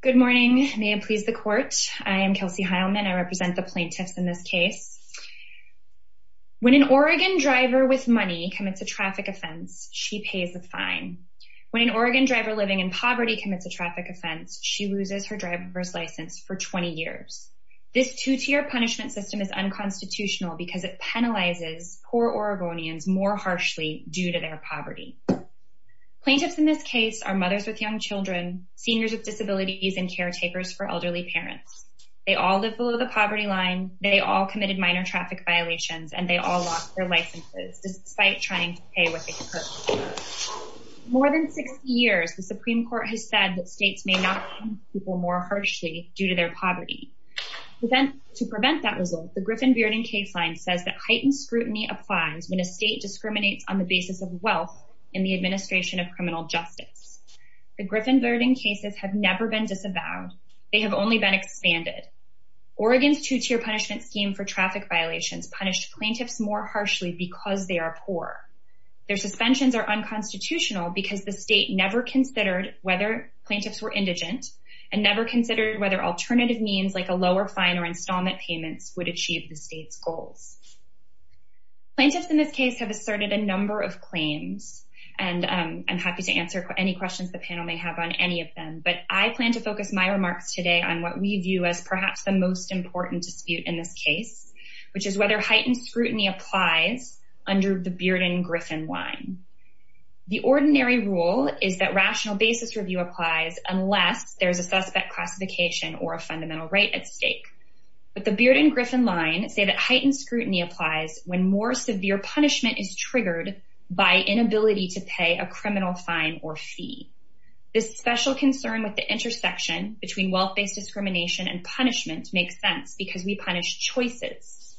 Good morning. May it please the court. I am Kelsey Heilman. I represent the plaintiffs in this case. When an Oregon driver with money commits a traffic offense, she pays a fine. When an Oregon driver living in poverty commits a traffic offense, she loses her driver's license for 20 years. This two-tier punishment system is unconstitutional because it penalizes poor Oregonians more harshly due to their poverty. Plaintiffs in this case are mothers with young children, seniors with disabilities, and caretakers for elderly parents. They all live below the poverty line, they all committed minor traffic violations, and they all lost their licenses despite trying to pay what they could. For more than 60 years, the Supreme Court has said that states may not punish people more harshly due to their poverty. To prevent that result, the Griffin-Bearden case line says that heightened scrutiny applies when a state discriminates on the basis of wealth in the administration of criminal justice. The Griffin-Bearden cases have never been disavowed. They have only been expanded. Oregon's two-tier punishment scheme for traffic violations punished plaintiffs more harshly because they are poor. Their suspensions are unconstitutional because the state never considered whether plaintiffs were indigent, and never considered whether alternative means like a lower fine or installment payments would achieve the state's goals. Plaintiffs in this case have asserted a number of claims, and I'm happy to answer any questions the panel may have on any of them, but I plan to focus my remarks today on what we view as perhaps the most important dispute in this case, which is whether heightened scrutiny applies under the Bearden-Griffin line. The ordinary rule is that rational basis review applies unless there's a suspect classification or a fundamental right at stake. But the Bearden-Griffin line say that heightened scrutiny applies when more severe punishment is triggered by inability to pay a criminal fine or fee. This special concern with the intersection between wealth-based discrimination and punishment makes sense because we punish choices.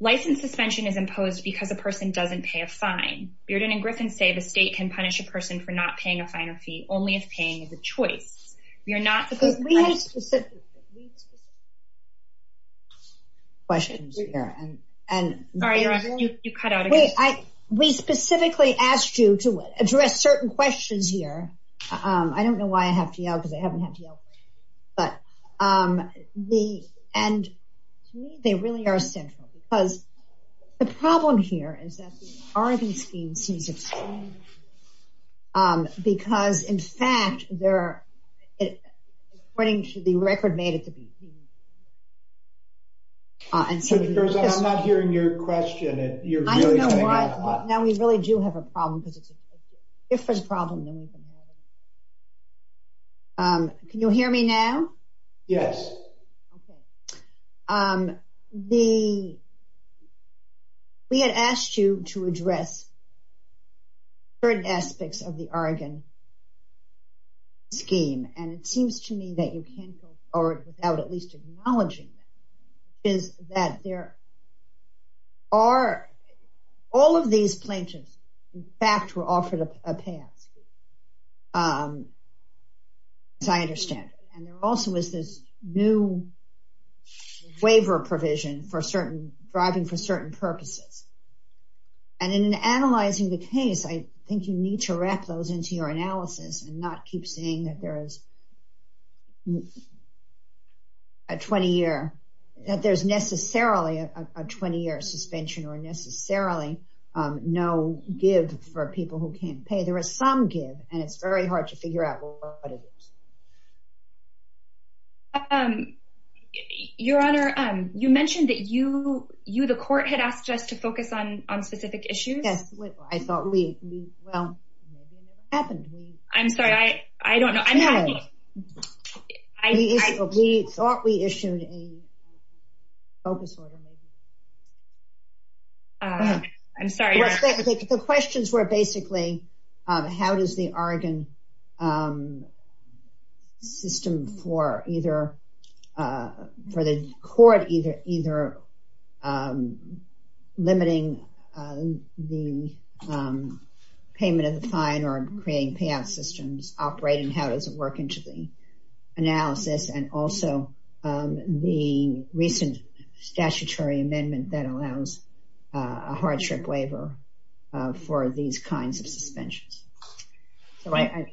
License suspension is imposed because a person doesn't pay a fine. Bearden and Griffin say the state can punish a person for not paying a fine or fee only if paying is a choice. We specifically asked you to address certain questions here. I don't know why I have to yell because I haven't had to yell. To me, they really are central because the problem here is that the Oregon scheme seems extreme because, in fact, according to the record, made it to be. I'm not hearing your question. I don't know why, but now we really do have a problem because it's a different problem than we've been having. Can you hear me now? Yes. We had asked you to address certain aspects of the Oregon scheme, and it seems to me that you can't go forward without at least acknowledging that. All of these plaintiffs, in fact, were offered a pass, as I understand it. There also was this new waiver provision driving for certain purposes. In analyzing the case, I think you need to wrap those into your analysis and not keep saying that there's necessarily a 20-year suspension or necessarily no give for people who can't pay. There is some give, and it's very hard to figure out what it is. Your Honor, you mentioned that you, the court, had asked us to focus on specific issues. Yes, I thought we – well, maybe it never happened. I'm sorry. I don't know. No. We thought we issued a focus order. I'm sorry. The questions were basically, how does the Oregon system for either – for the court either limiting the payment of the fine or creating payout systems operating? How does it work into the analysis? And also, the recent statutory amendment that allows a hardship waiver for these kinds of suspensions. Thank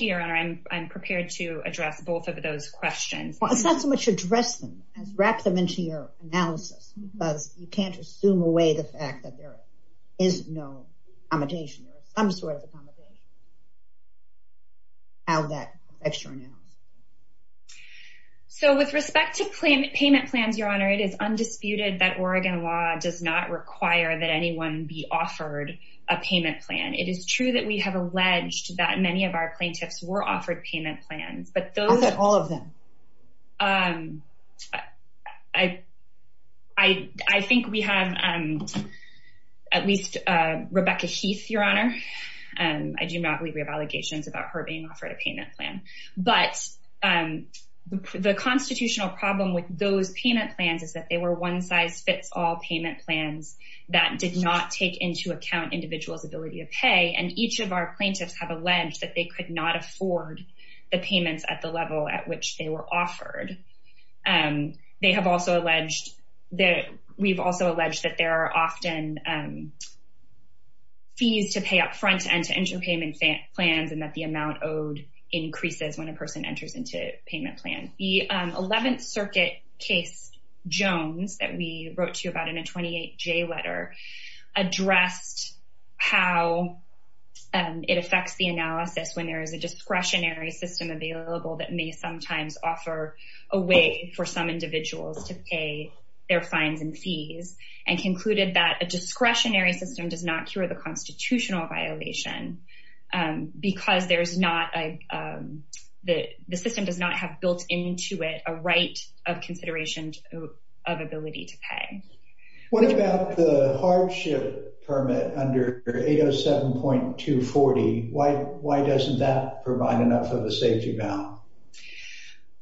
you, Your Honor. I'm prepared to address both of those questions. Let's not so much address them as wrap them into your analysis because you can't assume away the fact that there is no accommodation or some sort of accommodation. So, with respect to payment plans, Your Honor, it is undisputed that Oregon law does not require that anyone be offered a payment plan. It is true that we have alleged that many of our plaintiffs were offered payment plans. How about all of them? I think we have at least Rebecca Heath, Your Honor. I do not believe we have allegations about her being offered a payment plan. But the constitutional problem with those payment plans is that they were one-size-fits-all payment plans that did not take into account individuals' ability to pay. And each of our plaintiffs have alleged that they could not afford the payments at the level at which they were offered. They have also alleged that we've also alleged that there are often fees to pay up front and to enter payment plans and that the amount owed increases when a person enters into a payment plan. The 11th Circuit case, Jones, that we wrote to about in a 28-J letter, addressed how it affects the analysis when there is a discretionary system available that may sometimes offer a way for some individuals to pay their fines and fees and concluded that a discretionary system does not cure the constitutional violation because the system does not have built into it a right of consideration of ability to pay. What about the hardship permit under 807.240? Why doesn't that provide enough of a safety valve?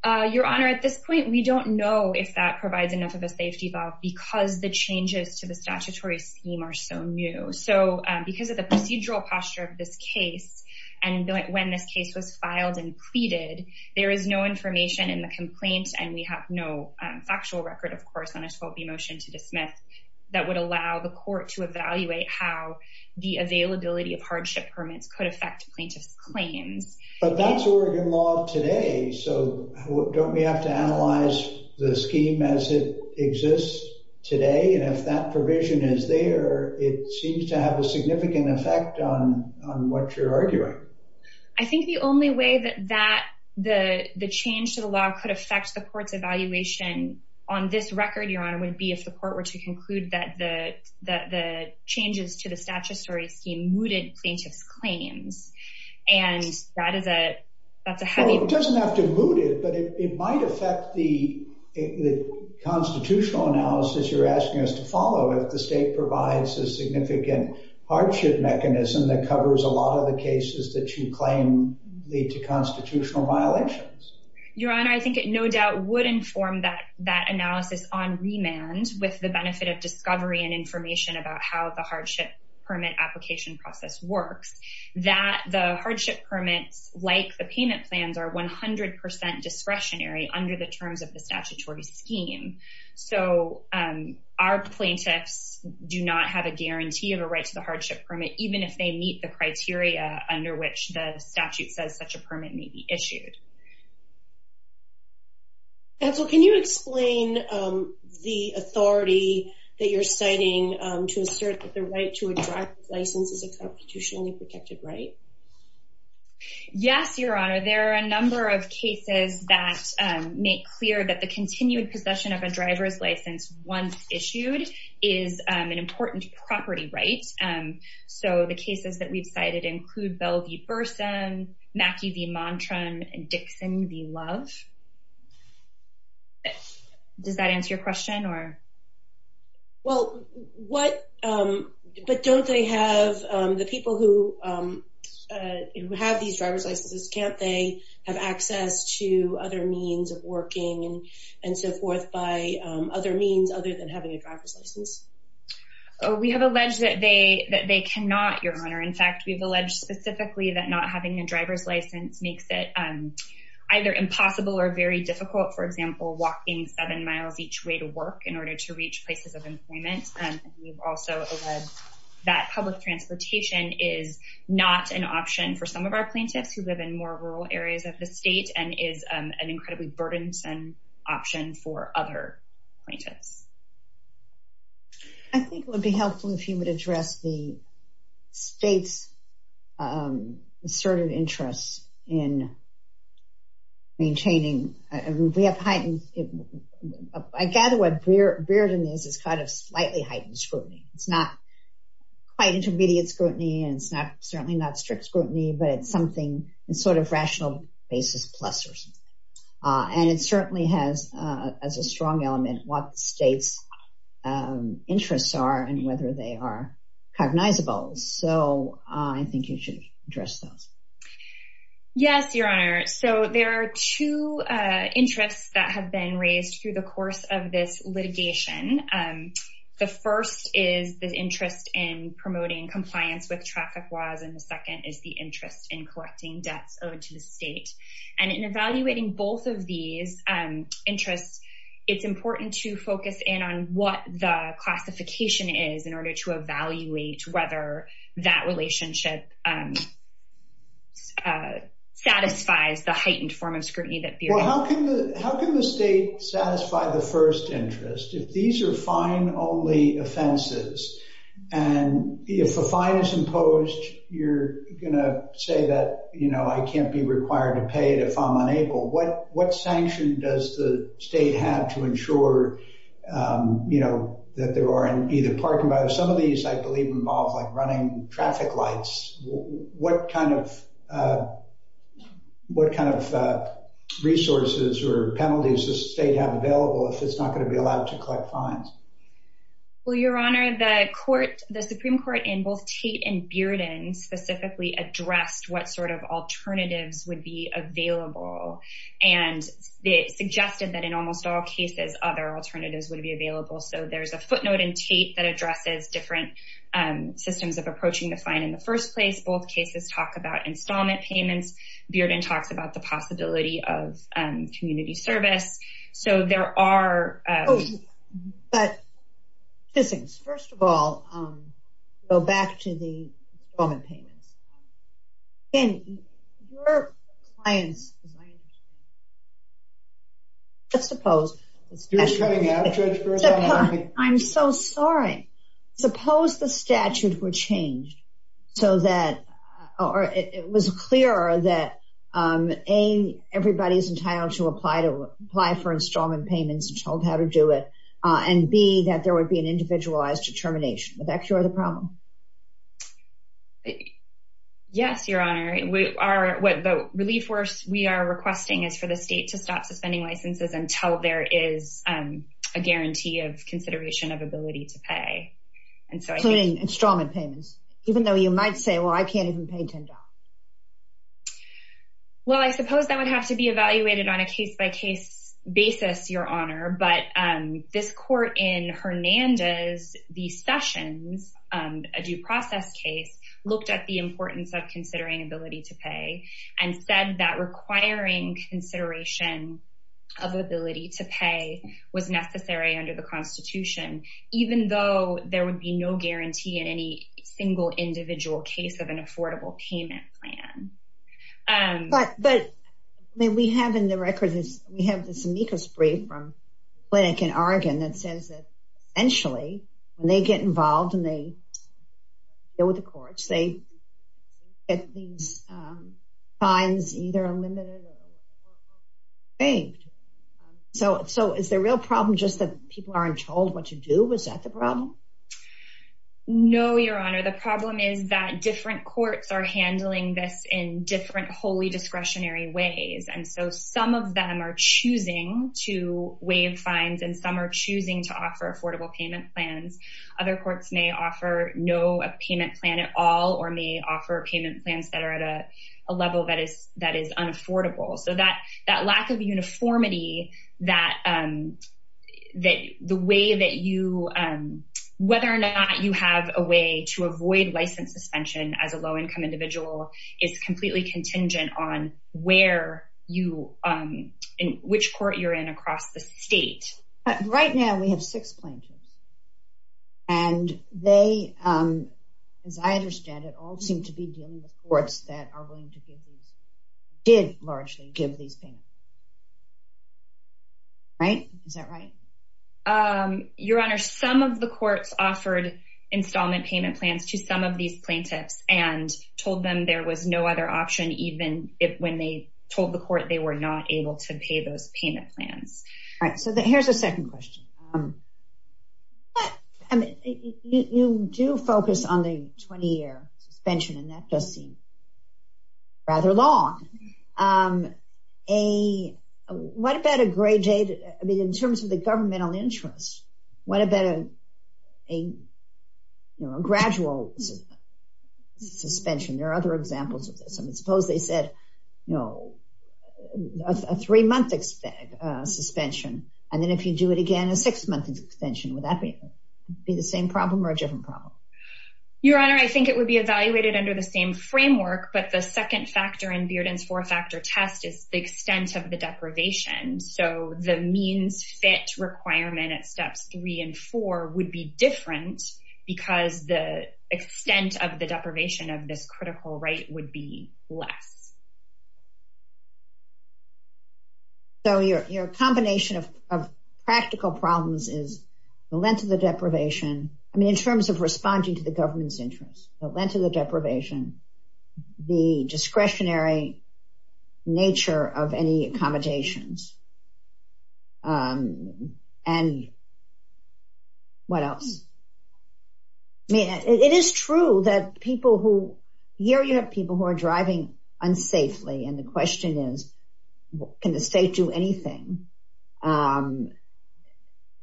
Your Honor, at this point we don't know if that provides enough of a safety valve because the changes to the statutory scheme are so new. So because of the procedural posture of this case and when this case was filed and pleaded, there is no information in the complaint and we have no factual record, of course, on a 12b motion to dismiss that would allow the court to evaluate how the availability of hardship permits could affect plaintiffs' claims. But that's Oregon law today, so don't we have to analyze the scheme as it exists today? And if that provision is there, it seems to have a significant effect on what you're arguing. I think the only way that the change to the law could affect the court's evaluation on this record, Your Honor, would be if the court were to conclude that the changes to the statutory scheme mooted plaintiffs' claims. Well, it doesn't have to moot it, but it might affect the constitutional analysis you're asking us to follow if the state provides a significant hardship mechanism that covers a lot of the cases that you claim lead to constitutional violations. Your Honor, I think it no doubt would inform that analysis on remand with the benefit of discovery and information about how the hardship permit application process works, that the hardship permits, like the payment plans, are 100% discretionary under the terms of the statutory scheme. So, our plaintiffs do not have a guarantee of a right to the hardship permit, even if they meet the criteria under which the statute says such a permit may be issued. Can you explain the authority that you're citing to assert that the right to a driver's license is a constitutionally protected right? Yes, Your Honor. There are a number of cases that make clear that the continued possession of a driver's license once issued is an important property right. So, the cases that we've cited include Bell v. Burson, Mackey v. Montrem, and Dixon v. Love. But don't they have, the people who have these driver's licenses, can't they have access to other means of working and so forth by other means other than having a driver's license? We have alleged that they cannot, Your Honor. In fact, we've alleged specifically that not having a driver's license makes it either impossible or very difficult, for example, walking seven miles each way to work in order to reach places of employment. We've also alleged that public transportation is not an option for some of our plaintiffs who live in more rural areas of the state and is an incredibly burdensome option for other plaintiffs. I think it would be helpful if you would address the state's asserted interest in maintaining, we have heightened, I gather what Brearden is, is kind of slightly heightened scrutiny. It's not quite intermediate scrutiny and it's certainly not strict scrutiny, but it's something, it's sort of rational basis plus or something. And it certainly has, as a strong element, what the state's interests are and whether they are cognizable. So, I think you should address those. Yes, Your Honor. So, there are two interests that have been raised through the course of this litigation. The first is the interest in promoting compliance with traffic laws and the second is the interest in collecting debts owed to the state. And in evaluating both of these interests, it's important to focus in on what the classification is in order to evaluate whether that relationship satisfies the heightened form of scrutiny that Brearden has. How can the state satisfy the first interest if these are fine only offenses and if a fine is imposed, you're going to say that, you know, I can't be required to pay it if I'm unable. What sanction does the state have to ensure, you know, that there aren't either parking, but some of these, I believe, involve like running traffic lights. What kind of resources or penalties does the state have available if it's not going to be allowed to collect fines? Well, Your Honor, the Supreme Court in both Tate and Brearden specifically addressed what sort of alternatives would be available and they suggested that in almost all cases other alternatives would be available. So, there's a footnote in Tate that addresses different systems of approaching the fine in the first place. Both cases talk about installment payments. Brearden talks about the possibility of community service. So, there are… But, Ms. Fissings, first of all, go back to the installment payments. I'm so sorry. Suppose the statute were changed so that it was clearer that A, everybody is entitled to apply for installment payments and told how to do it, and B, that there would be an individualized determination. Would that cure the problem? Yes, Your Honor. The relief we are requesting is for the state to stop suspending licenses until there is a guarantee of consideration of ability to pay. Including installment payments, even though you might say, well, I can't even pay $10. Well, I suppose that would have to be evaluated on a case-by-case basis, Your Honor, but this court in Hernandez v. Sessions, a due process case, looked at the importance of considering ability to pay and said that requiring consideration of ability to pay was necessary under the Constitution, even though there would be no guarantee in any single individual case of an affordable payment plan. But, we have in the records, we have this amicus brief from a clinic in Oregon that says that, essentially, when they get involved and they deal with the courts, they get these fines either eliminated or saved. So, is the real problem just that people aren't told what to do? Is that the problem? No, Your Honor. The problem is that different courts are handling this in different wholly discretionary ways. And so, some of them are choosing to waive fines and some are choosing to offer affordable payment plans. Other courts may offer no payment plan at all or may offer payment plans that are at a level that is unaffordable. So, that lack of uniformity that the way that you, whether or not you have a way to avoid license suspension as a low-income individual is completely contingent on where you, in which court you're in across the state. Right now, we have six plaintiffs. And they, as I understand it, all seem to be dealing with courts that did largely give these payments. Right? Is that right? Your Honor, some of the courts offered installment payment plans to some of these plaintiffs and told them there was no other option, even when they told the court they were not able to pay those payment plans. All right. So, here's a second question. You do focus on the 20-year suspension, and that does seem rather long. What about a grade date? I mean, in terms of the governmental interest, what about a gradual suspension? There are other examples of this. I mean, suppose they said, you know, a three-month suspension, and then if you do it again, a six-month suspension. Would that be the same problem or a different problem? Your Honor, I think it would be evaluated under the same framework, but the second factor in Bearden's four-factor test is the extent of the deprivation. So, the means-fit requirement at steps three and four would be different because the extent of the deprivation of this critical right would be less. So, your combination of practical problems is the length of the deprivation. I mean, in terms of responding to the government's interest, the length of the deprivation, the discretionary nature of any accommodations, and what else? I mean, it is true that people who—here you have people who are driving unsafely, and the question is, can the state do anything?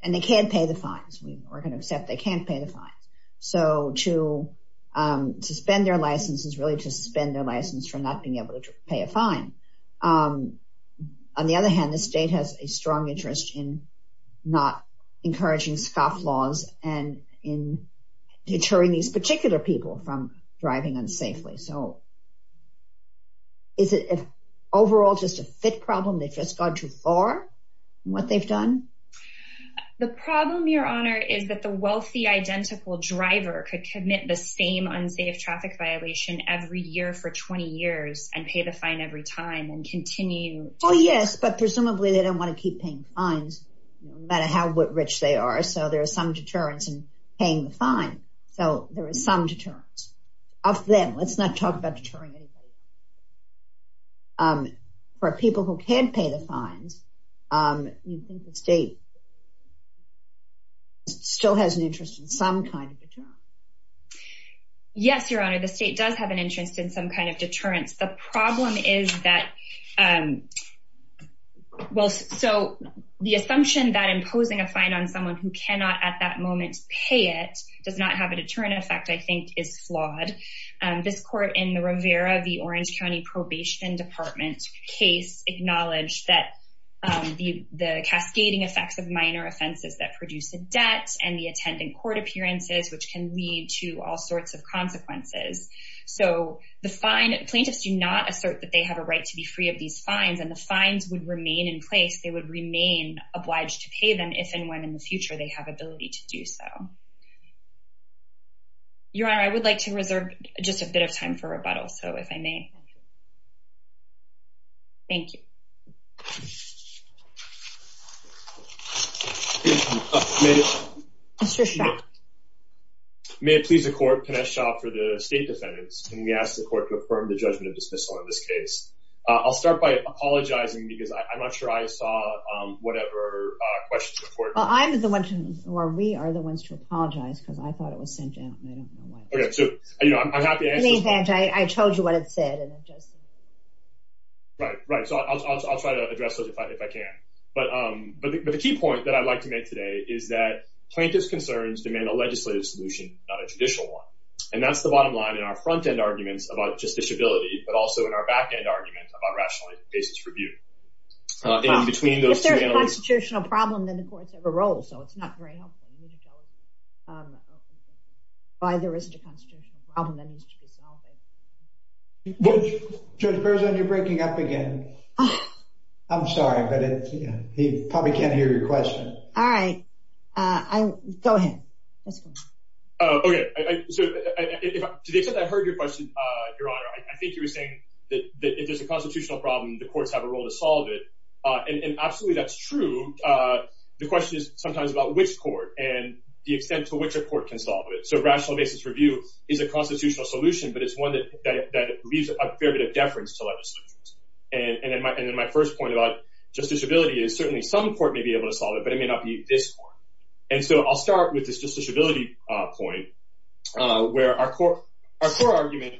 And they can't pay the fines. We're going to accept they can't pay the fines. So, to suspend their license is really to suspend their license for not being able to pay a fine. On the other hand, the state has a strong interest in not encouraging scoff laws and in deterring these particular people from driving unsafely. So, is it overall just a fit problem? They've just gone too far in what they've done? The problem, Your Honor, is that the wealthy, identical driver could commit the same unsafe traffic violation every year for 20 years and pay the fine every time and continue— Yes, Your Honor. The state does have an interest in some kind of deterrence. The problem is that—well, so, the assumption that imposing a fine on someone who cannot at that moment pay it does not have a deterrent effect, I think, is flawed. This court in the Rivera v. Orange County Probation Department case acknowledged that the cascading effects of minor offenses that produce a debt and the attendant court appearances, which can lead to all sorts of consequences. So, the plaintiffs do not assert that they have a right to be free of these fines, and the fines would remain in place. They would remain obliged to pay them if and when in the future they have ability to do so. Your Honor, I would like to reserve just a bit of time for rebuttal, so, if I may. Thank you. May it please the Court, Pinesh Shah for the state defendants, when we ask the Court to affirm the judgment of dismissal on this case. I'll start by apologizing because I'm not sure I saw whatever questions the Court— Well, I'm the one to—or we are the ones to apologize because I thought it was sent out, and I don't know why. Okay, so, you know, I'm happy to answer— I told you what it said, and it just— Right, right. So, I'll try to address those if I can. But the key point that I'd like to make today is that plaintiff's concerns demand a legislative solution, not a judicial one. And that's the bottom line in our front-end arguments about justiciability, but also in our back-end arguments about rational basis for review. If there's a constitutional problem, then the courts have a role, so it's not very helpful. Why there isn't a constitutional problem that needs to be solved. Judge Berzon, you're breaking up again. I'm sorry, but he probably can't hear your question. All right. Go ahead. Okay, so, to the extent I heard your question, Your Honor, I think you were saying that if there's a constitutional problem, the courts have a role to solve it. And absolutely, that's true. The question is sometimes about which court and the extent to which a court can solve it. So, rational basis review is a constitutional solution, but it's one that leaves a fair bit of deference to legislatures. And then my first point about justiciability is certainly some court may be able to solve it, but it may not be this court. And so, I'll start with this justiciability point, where our core argument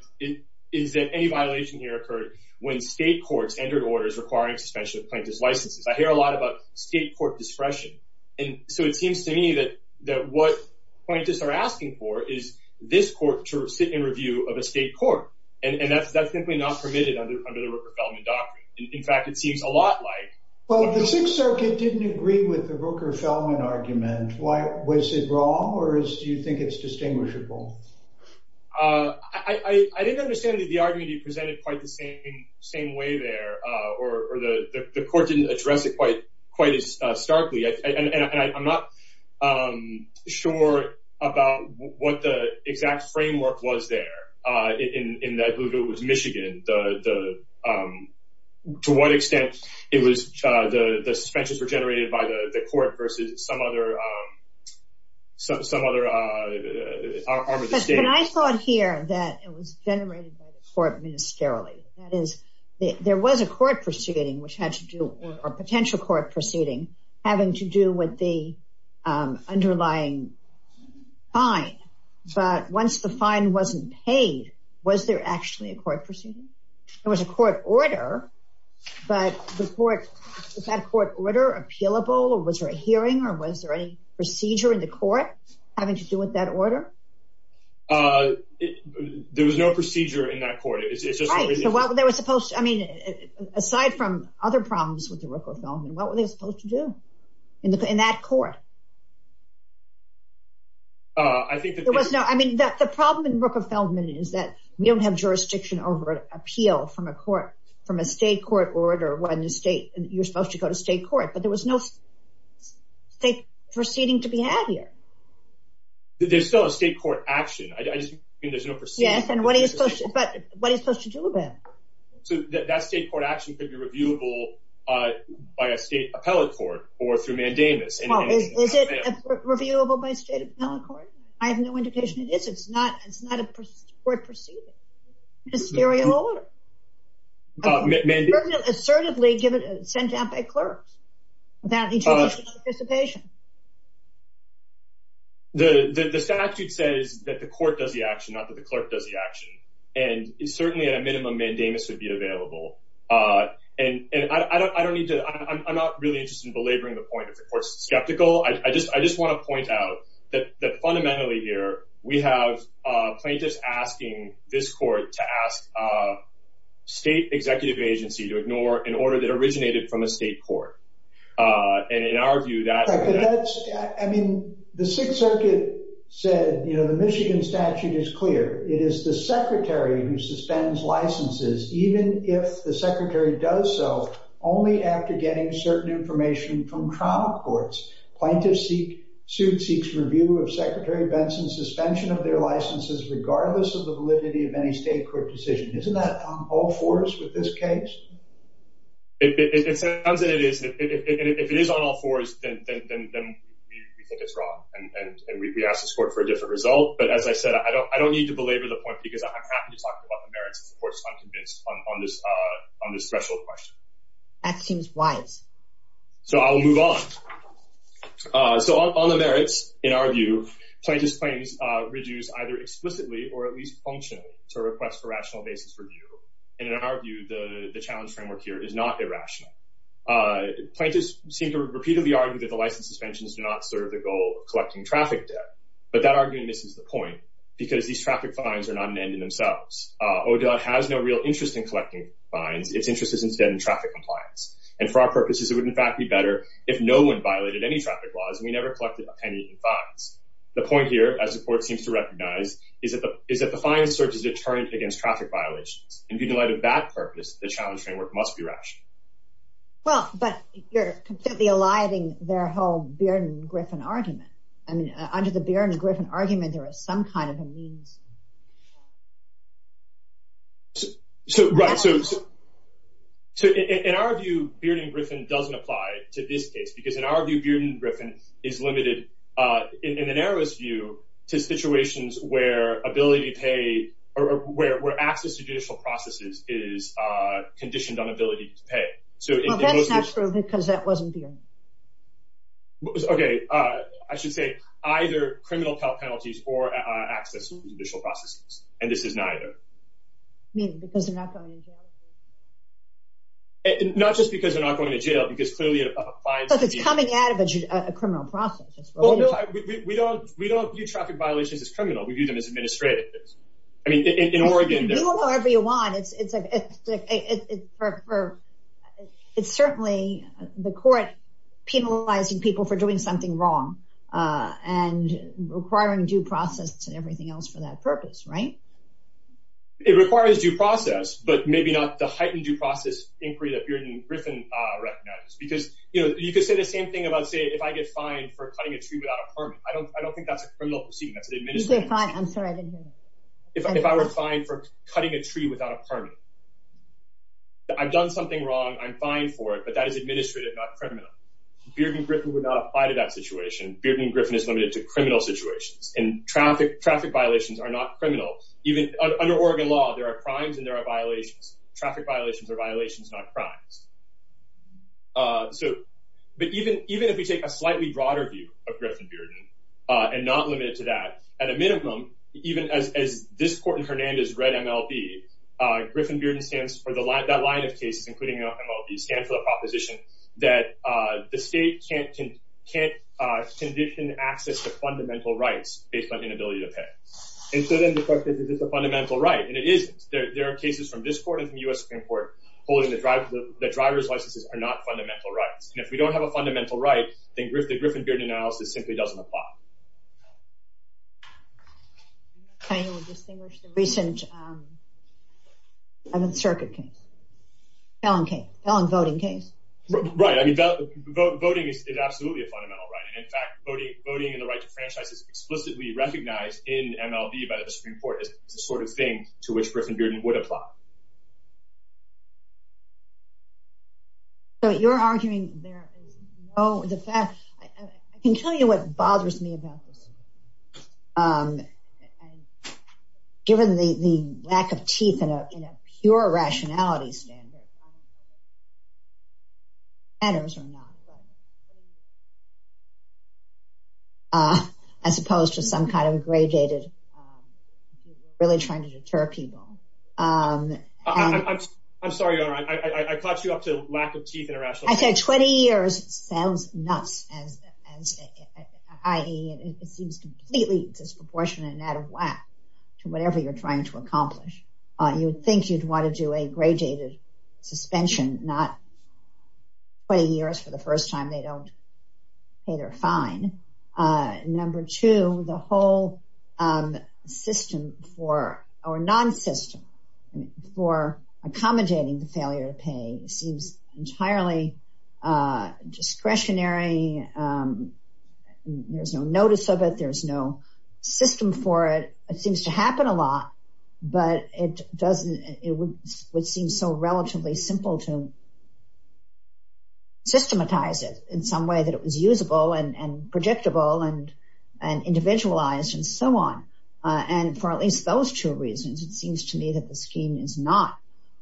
is that any violation here occurred when state courts entered orders requiring suspension of plaintiff's licenses. I hear a lot about state court discretion, and so it seems to me that what plaintiffs are asking for is this court to sit in review of a state court. And that's simply not permitted under the Rooker-Feldman Doctrine. In fact, it seems a lot like… Was it wrong, or do you think it's distinguishable? I didn't understand the argument you presented quite the same way there, or the court didn't address it quite as starkly. I'm not sure about what the exact framework was there, in that if it was Michigan, to what extent the suspensions were generated by the court versus some other arm of the state. But I thought here that it was generated by the court ministerially. That is, there was a court proceeding, or potential court proceeding, having to do with the underlying fine. But once the fine wasn't paid, was there actually a court proceeding? There was a court order, but was that court order appealable, or was there a hearing, or was there any procedure in the court having to do with that order? There was no procedure in that court. Right, so what they were supposed to… I mean, aside from other problems with the Rooker-Feldman, what were they supposed to do in that court? I think that… There was no… I mean, the problem in Rooker-Feldman is that we don't have jurisdiction over appeal from a court, from a state court order when you're supposed to go to state court. But there was no state proceeding to be had here. There's still a state court action. I just think there's no procedure. Yes, and what are you supposed to do about it? So that state court action could be reviewable by a state appellate court or through mandamus. Is it reviewable by a state appellate court? I have no indication it is. It's not a court proceeding. It's a theory of order. Mandamus? It's assertively sent out by clerks without any judicial participation. The statute says that the court does the action, not that the clerk does the action. And certainly, at a minimum, mandamus would be available. And I don't need to… I'm not really interested in belaboring the point if the court's skeptical. I just want to point out that fundamentally here, we have plaintiffs asking this court to ask a state executive agency to ignore an order that originated from a state court. And in our view, that's… Plaintiff's suit seeks review of Secretary Benson's suspension of their licenses regardless of the validity of any state court decision. Isn't that on all fours with this case? It sounds that it is. And if it is on all fours, then we think it's wrong. And we ask this court for a different result. But as I said, I don't need to belabor the point because I'm happy to talk about the merits of the court's unconvinced on this threshold question. That seems wise. So I'll move on. So on the merits, in our view, plaintiffs' claims reduce either explicitly or at least functionally to a request for rational basis review. And in our view, the challenge framework here is not irrational. Plaintiffs seem to repeatedly argue that the license suspensions do not serve the goal of collecting traffic debt. But that argument misses the point because these traffic fines are not an end in themselves. ODOT has no real interest in collecting fines. Its interest is instead in traffic compliance. And for our purposes, it would, in fact, be better if no one violated any traffic laws and we never collected a penny in fines. The point here, as the court seems to recognize, is that the fine serves as a deterrent against traffic violations. And in light of that purpose, the challenge framework must be rational. Well, but you're completely eliding their whole Bearden-Griffin argument. I mean, under the Bearden-Griffin argument, there is some kind of a means. Right. So in our view, Bearden-Griffin doesn't apply to this case because, in our view, Bearden-Griffin is limited, in the narrowest view, to situations where ability to pay or where access to judicial processes is conditioned on ability to pay. Well, that's not true because that wasn't Bearden-Griffin. Okay. I should say either criminal penalties or access to judicial processes. And this is neither. You mean because they're not going to jail? Not just because they're not going to jail. Because clearly a fine should be… Because it's coming out of a criminal process. Well, no. We don't view traffic violations as criminal. We view them as administrative. I mean, in Oregon… It's certainly the court penalizing people for doing something wrong and requiring due process and everything else for that purpose, right? It requires due process, but maybe not the heightened due process inquiry that Bearden-Griffin recognizes. Because, you know, you could say the same thing about, say, if I get fined for cutting a tree without a permit. I don't think that's a criminal proceeding. You get fined. I'm sorry. If I were fined for cutting a tree without a permit. I've done something wrong. I'm fined for it, but that is administrative, not criminal. Bearden-Griffin would not apply to that situation. Bearden-Griffin is limited to criminal situations. And traffic violations are not criminal. Under Oregon law, there are crimes and there are violations. Traffic violations are violations, not crimes. But even if we take a slightly broader view of Griffin-Bearden and not limit it to that, at a minimum, even as this court in Hernandez read MLB, Griffin-Bearden stands for that line of cases, including MLB, stands for the proposition that the state can't condition access to fundamental rights based on inability to pay. And so then the question is, is this a fundamental right? And it isn't. There are cases from this court and from the U.S. Supreme Court holding that driver's licenses are not fundamental rights. And if we don't have a fundamental right, then the Griffin-Bearden analysis simply doesn't apply. Can you distinguish the recent circuit case? Fallon case. Fallon voting case. Right. I mean, voting is absolutely a fundamental right. And in fact, voting and the right to franchise is explicitly recognized in MLB by the Supreme Court as the sort of thing to which Griffin-Bearden would apply. So you're arguing there is no, the fact, I can tell you what bothers me about this. Given the lack of teeth in a pure rationality standard, as opposed to some kind of aggregated, really trying to deter people. I'm sorry, Your Honor. I caught you up to lack of teeth in a rational standard. I'd say 20 years sounds nuts. It seems completely disproportionate and out of whack to whatever you're trying to accomplish. You would think you'd want to do a gradated suspension, not 20 years for the first time. They don't pay their fine. Number two, the whole system for, or non-system for accommodating the failure to pay, seems entirely discretionary. There's no notice of it. There's no system for it. It seems to happen a lot, but it doesn't, it would seem so relatively simple to systematize it in some way that it was usable and predictable and individualized and so on. And for at least those two reasons, it seems to me that the scheme is not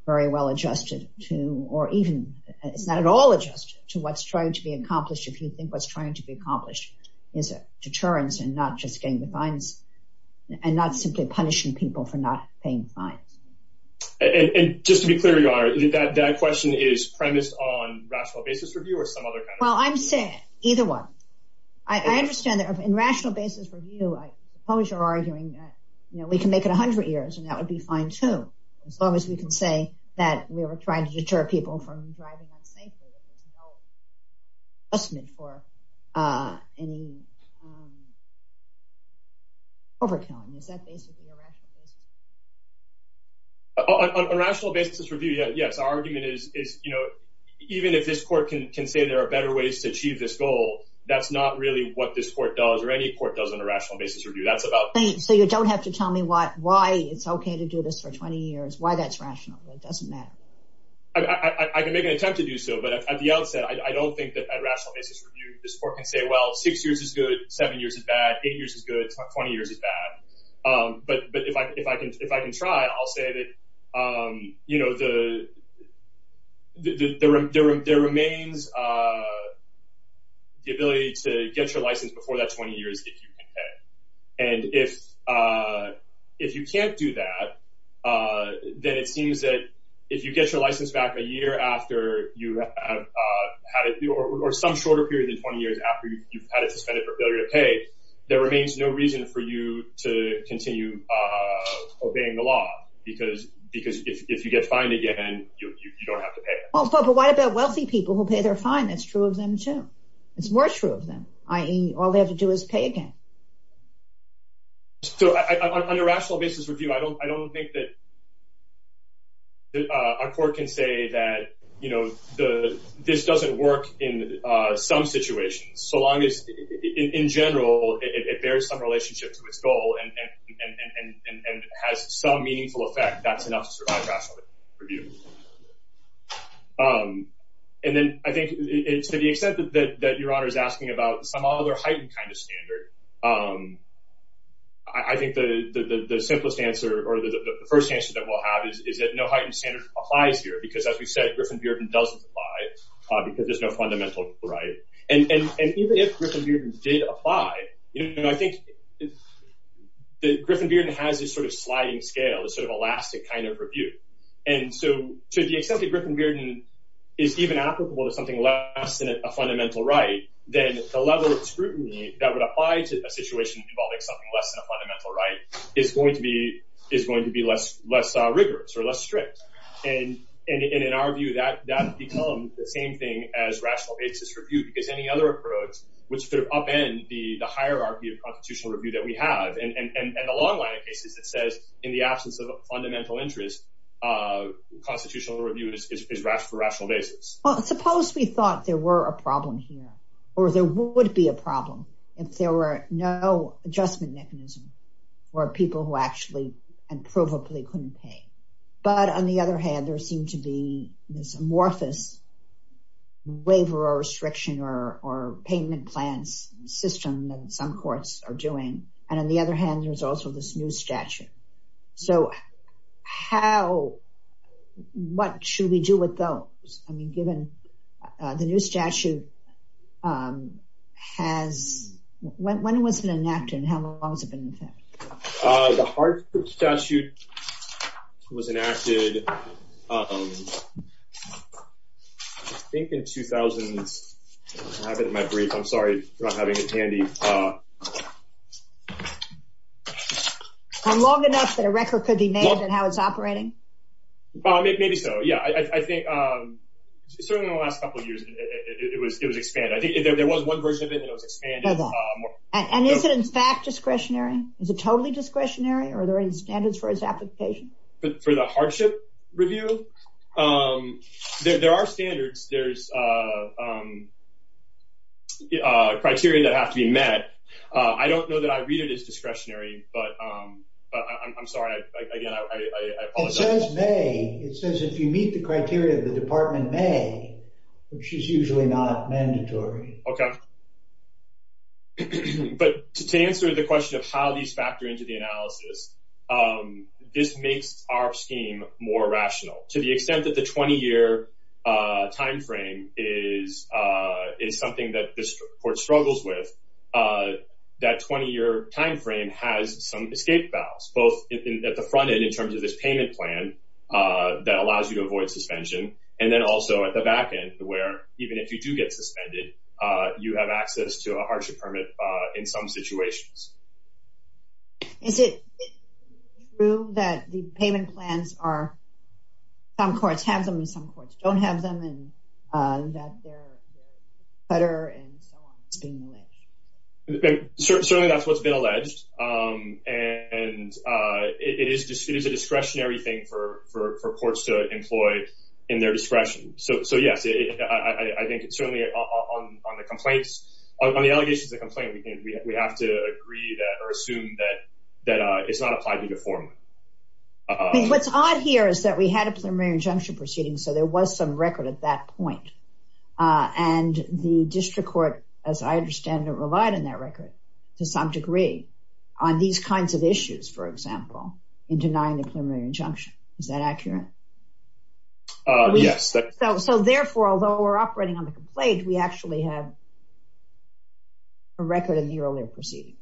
very well adjusted to, or even it's not at all adjusted to what's trying to be accomplished. If you think what's trying to be accomplished is a deterrence and not just getting the fines and not simply punishing people for not paying fines. And just to be clear, Your Honor, that question is premised on rational basis review or some other kind of... Well, I'm saying either one. I understand that in rational basis review, I suppose you're arguing that we can make it 100 years and that would be fine too. As long as we can say that we were trying to deter people from driving unsafely, that there's no punishment for any overkilling. Is that basically a rational basis review? A rational basis review, yes. Our argument is, you know, even if this court can say there are better ways to achieve this goal, that's not really what this court does or any court does in a rational basis review. That's about... So you don't have to tell me why it's okay to do this for 20 years, why that's rational. It doesn't matter. I can make an attempt to do so, but at the outset, I don't think that at rational basis review, this court can say, well, six years is good, seven years is bad, eight years is good, 20 years is bad. But if I can try, I'll say that, you know, there remains the ability to get your license before that 20 years if you can pay. And if you can't do that, then it seems that if you get your license back a year after you have had it, or some shorter period than 20 years after you've had it suspended for failure to pay, there remains no reason for you to continue obeying the law, because if you get fined again, you don't have to pay. But what about wealthy people who pay their fine? That's true of them too. It's more true of them, i.e., all they have to do is pay again. So on a rational basis review, I don't think that our court can say that, you know, this doesn't work in some situations. So long as, in general, it bears some relationship to its goal and has some meaningful effect, that's enough to survive rational review. And then I think to the extent that Your Honor is asking about some other heightened kind of standard, I think the simplest answer or the first answer that we'll have is that no heightened standard applies here, because as we said, Griffin-Bearden doesn't apply because there's no fundamental right. And even if Griffin-Bearden did apply, you know, I think Griffin-Bearden has this sort of sliding scale, this sort of elastic kind of review. And so to the extent that Griffin-Bearden is even applicable to something less than a fundamental right, then the level of scrutiny that would apply to a situation involving something less than a fundamental right is going to be less rigorous or less strict. And in our view, that would become the same thing as rational basis review, because any other approach would sort of upend the hierarchy of constitutional review that we have. And the long line of cases that says in the absence of a fundamental interest, constitutional review is for rational basis. Well, suppose we thought there were a problem here or there would be a problem if there were no adjustment mechanism or people who actually and provably couldn't pay. But on the other hand, there seemed to be this amorphous waiver or restriction or payment plans system that some courts are doing. And on the other hand, there's also this new statute. So how, what should we do with those? I mean, given the new statute has, when was it enacted and how long has it been in effect? The Hartford statute was enacted, I think, in 2000. I have it in my brief. I'm sorry for not having it handy. And long enough that a record could be made on how it's operating? Maybe so, yeah. I think certainly in the last couple of years it was expanded. I think there was one version of it that was expanded. And is it in fact discretionary? Is it totally discretionary? Are there any standards for its application? For the hardship review? There are standards. There's criteria that have to be met. I don't know that I read it as discretionary, but I'm sorry. Again, I apologize. It says may. It says if you meet the criteria, the department may, which is usually not mandatory. Okay. But to answer the question of how these factor into the analysis, this makes our scheme more rational. To the extent that the 20-year timeframe is something that this court struggles with, that 20-year timeframe has some escape vows, both at the front end in terms of this payment plan that allows you to avoid suspension, and then also at the back end where even if you do get suspended, you have access to a hardship permit in some situations. Is it true that the payment plans are some courts have them and some courts don't have them, and that they're a cutter and so on? Certainly that's what's been alleged. And it is a discretionary thing for courts to employ in their discretion. So, yes, I think it's certainly on the allegations of the complaint, we have to agree or assume that it's not applied to you formally. What's odd here is that we had a preliminary injunction proceeding, so there was some record at that point. And the district court, as I understand it, relied on that record to some degree on these kinds of issues, for example, in denying the preliminary injunction. Is that accurate? Yes. So, therefore, although we're operating on the complaint, we actually have a record of the earlier proceeding.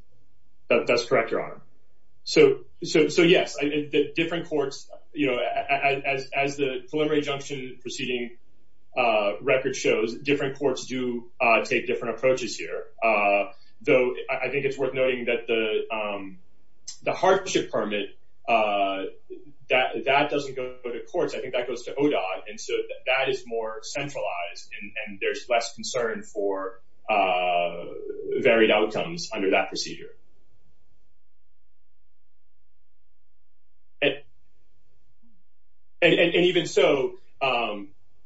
That's correct, Your Honor. So, yes, different courts, as the preliminary injunction proceeding record shows, different courts do take different approaches here. Though I think it's worth noting that the hardship permit, that doesn't go to courts. I think that goes to ODOT. And so that is more centralized, and there's less concern for varied outcomes under that procedure. And even so,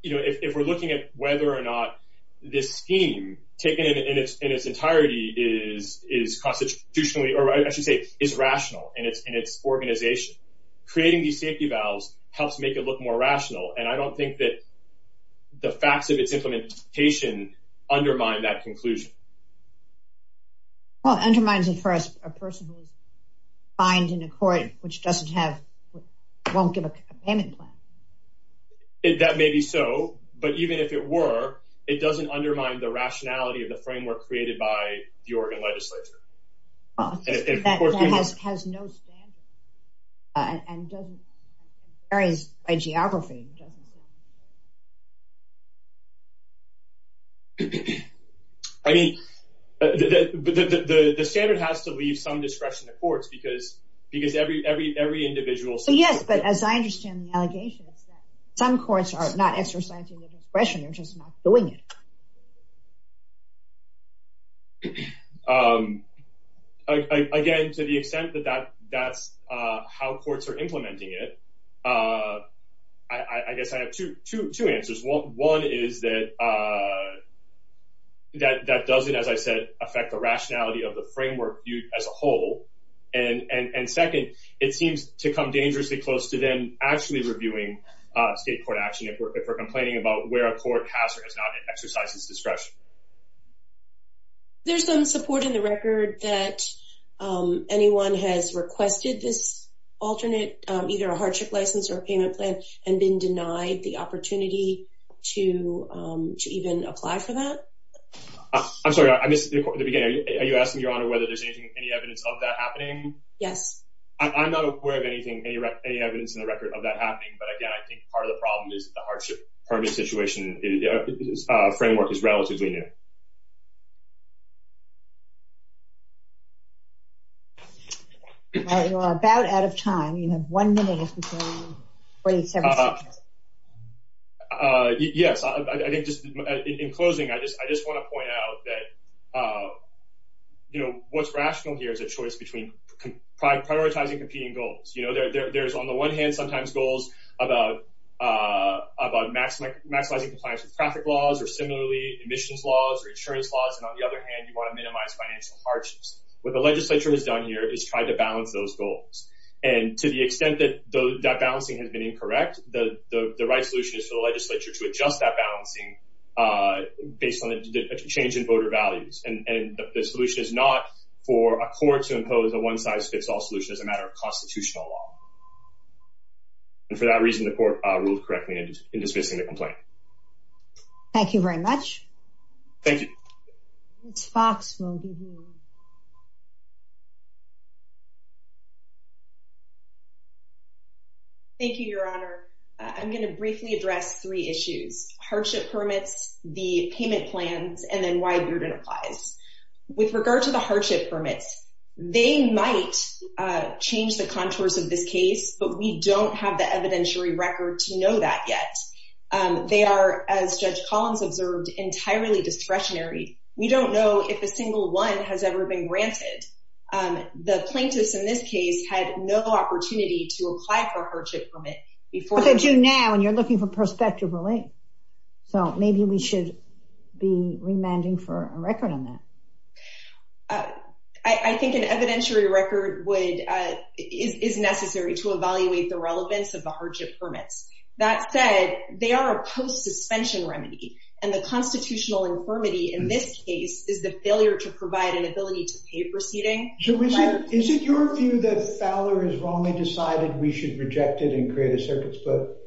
if we're looking at whether or not this scheme, taken in its entirety, is constitutionally, or I should say is rational in its organization, creating these safety valves helps make it look more rational. And I don't think that the facts of its implementation undermine that conclusion. Well, it undermines it for a person who is fined in a court which doesn't have, won't give a payment plan. That may be so, but even if it were, it doesn't undermine the rationality of the framework created by the Oregon legislature. That has no standard, and varies by geography. I mean, the standard has to leave some discretion to courts, because every individual... So, yes, but as I understand the allegation, some courts are not exercising their discretion, they're just not doing it. Again, to the extent that that's how courts are implementing it, I guess I have two answers. One is that that doesn't, as I said, affect the rationality of the framework viewed as a whole. And second, it seems to come dangerously close to them actually reviewing state court action if we're complaining about where a court has or has not exercised its discretion. There's some support in the record that anyone has requested this alternate, either a hardship license or a payment plan, and been denied the opportunity to even apply for that? I'm sorry, I missed the beginning. Are you asking, Your Honor, whether there's any evidence of that happening? Yes. I'm not aware of anything, any evidence in the record of that happening, but again, I think part of the problem is that the hardship permit situation framework is relatively new. All right, we're about out of time. You have one minute before 47 seconds. Yes, I think just in closing, I just want to point out that what's rational here is a choice between prioritizing competing goals. There's, on the one hand, sometimes goals about maximizing compliance with traffic laws, or similarly, emissions laws or insurance laws, and on the other hand, you want to minimize financial hardships. What the legislature has done here is try to balance those goals. And to the extent that that balancing has been incorrect, the right solution is for the legislature to adjust that balancing based on a change in voter values. And the solution is not for a court to impose a one-size-fits-all solution as a matter of constitutional law. And for that reason, the court ruled correctly in dismissing the complaint. Thank you very much. Thank you. Thank you, Your Honor. I'm going to briefly address three issues. Hardship permits, the payment plans, and then why a burden applies. With regard to the hardship permits, they might change the contours of this case, but we don't have the evidentiary record to know that yet. They are, as Judge Collins observed, entirely discretionary. We don't know if a single one has ever been granted. The plaintiffs in this case had no opportunity to apply for a hardship permit before— Well, they do now, and you're looking for prospective relief. So maybe we should be remanding for a record on that. I think an evidentiary record is necessary to evaluate the relevance of the hardship permits. That said, they are a post-suspension remedy, and the constitutional infirmity in this case is the failure to provide an ability to pay proceeding. So is it your view that Fowler has wrongly decided we should reject it and create a circuits vote?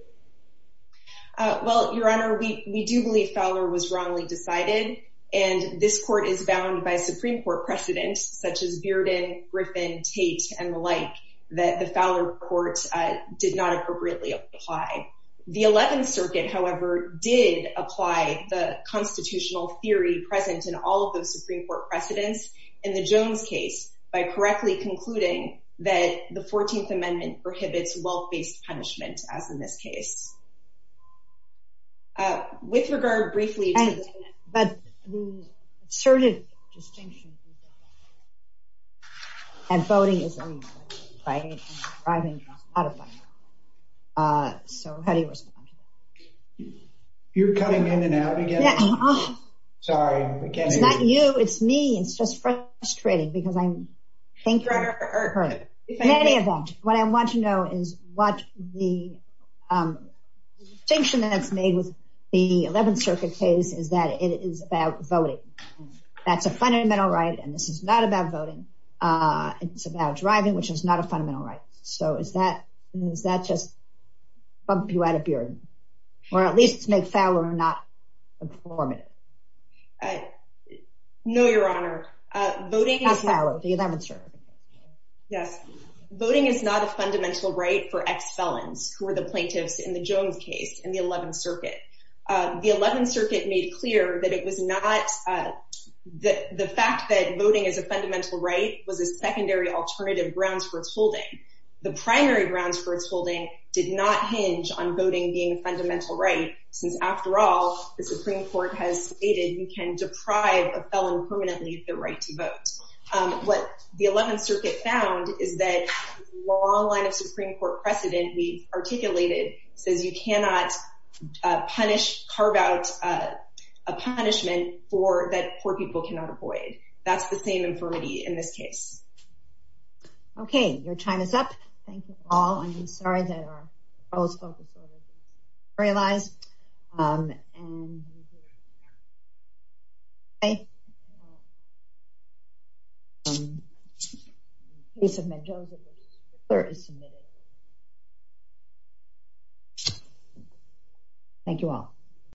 Well, Your Honor, we do believe Fowler was wrongly decided, and this court is bound by Supreme Court precedents such as Bearden, Griffin, Tate, and the like that the Fowler court did not appropriately apply. The Eleventh Circuit, however, did apply the constitutional theory present in all of those Supreme Court precedents. In the Jones case, by correctly concluding that the Fourteenth Amendment prohibits wealth-based punishment, as in this case. With regard, briefly— But the assertive distinction— And voting is— So how do you respond to that? You're cutting in and out again? Yeah. Sorry, I can't hear you. It's not you, it's me. It's just frustrating because I'm thinking of her. In any event, what I want to know is what the distinction that's made with the Eleventh Circuit case is that it is about voting. That's a fundamental right, and this is not about voting. It's about driving, which is not a fundamental right. So does that just bump you out of Bearden? Or at least make Fowler not informative? No, Your Honor. Voting is— Ask Fowler, the Eleventh Circuit. Yes. Voting is not a fundamental right for ex-felons, who are the plaintiffs in the Jones case and the Eleventh Circuit. The Eleventh Circuit made clear that it was not— the fact that voting is a fundamental right was a secondary alternative grounds for its holding. The primary grounds for its holding did not hinge on voting being a fundamental right, since after all, the Supreme Court has stated you can deprive a felon permanently of their right to vote. What the Eleventh Circuit found is that the long line of Supreme Court precedent we've articulated says you cannot punish, carve out a punishment that poor people cannot avoid. That's the same infirmity in this case. Okay, your time is up. Thank you all. I'm sorry that our proposed focus order didn't materialize. And we'll do it again. Okay. The case of Mendoza versus Fowler is submitted. Thank you all.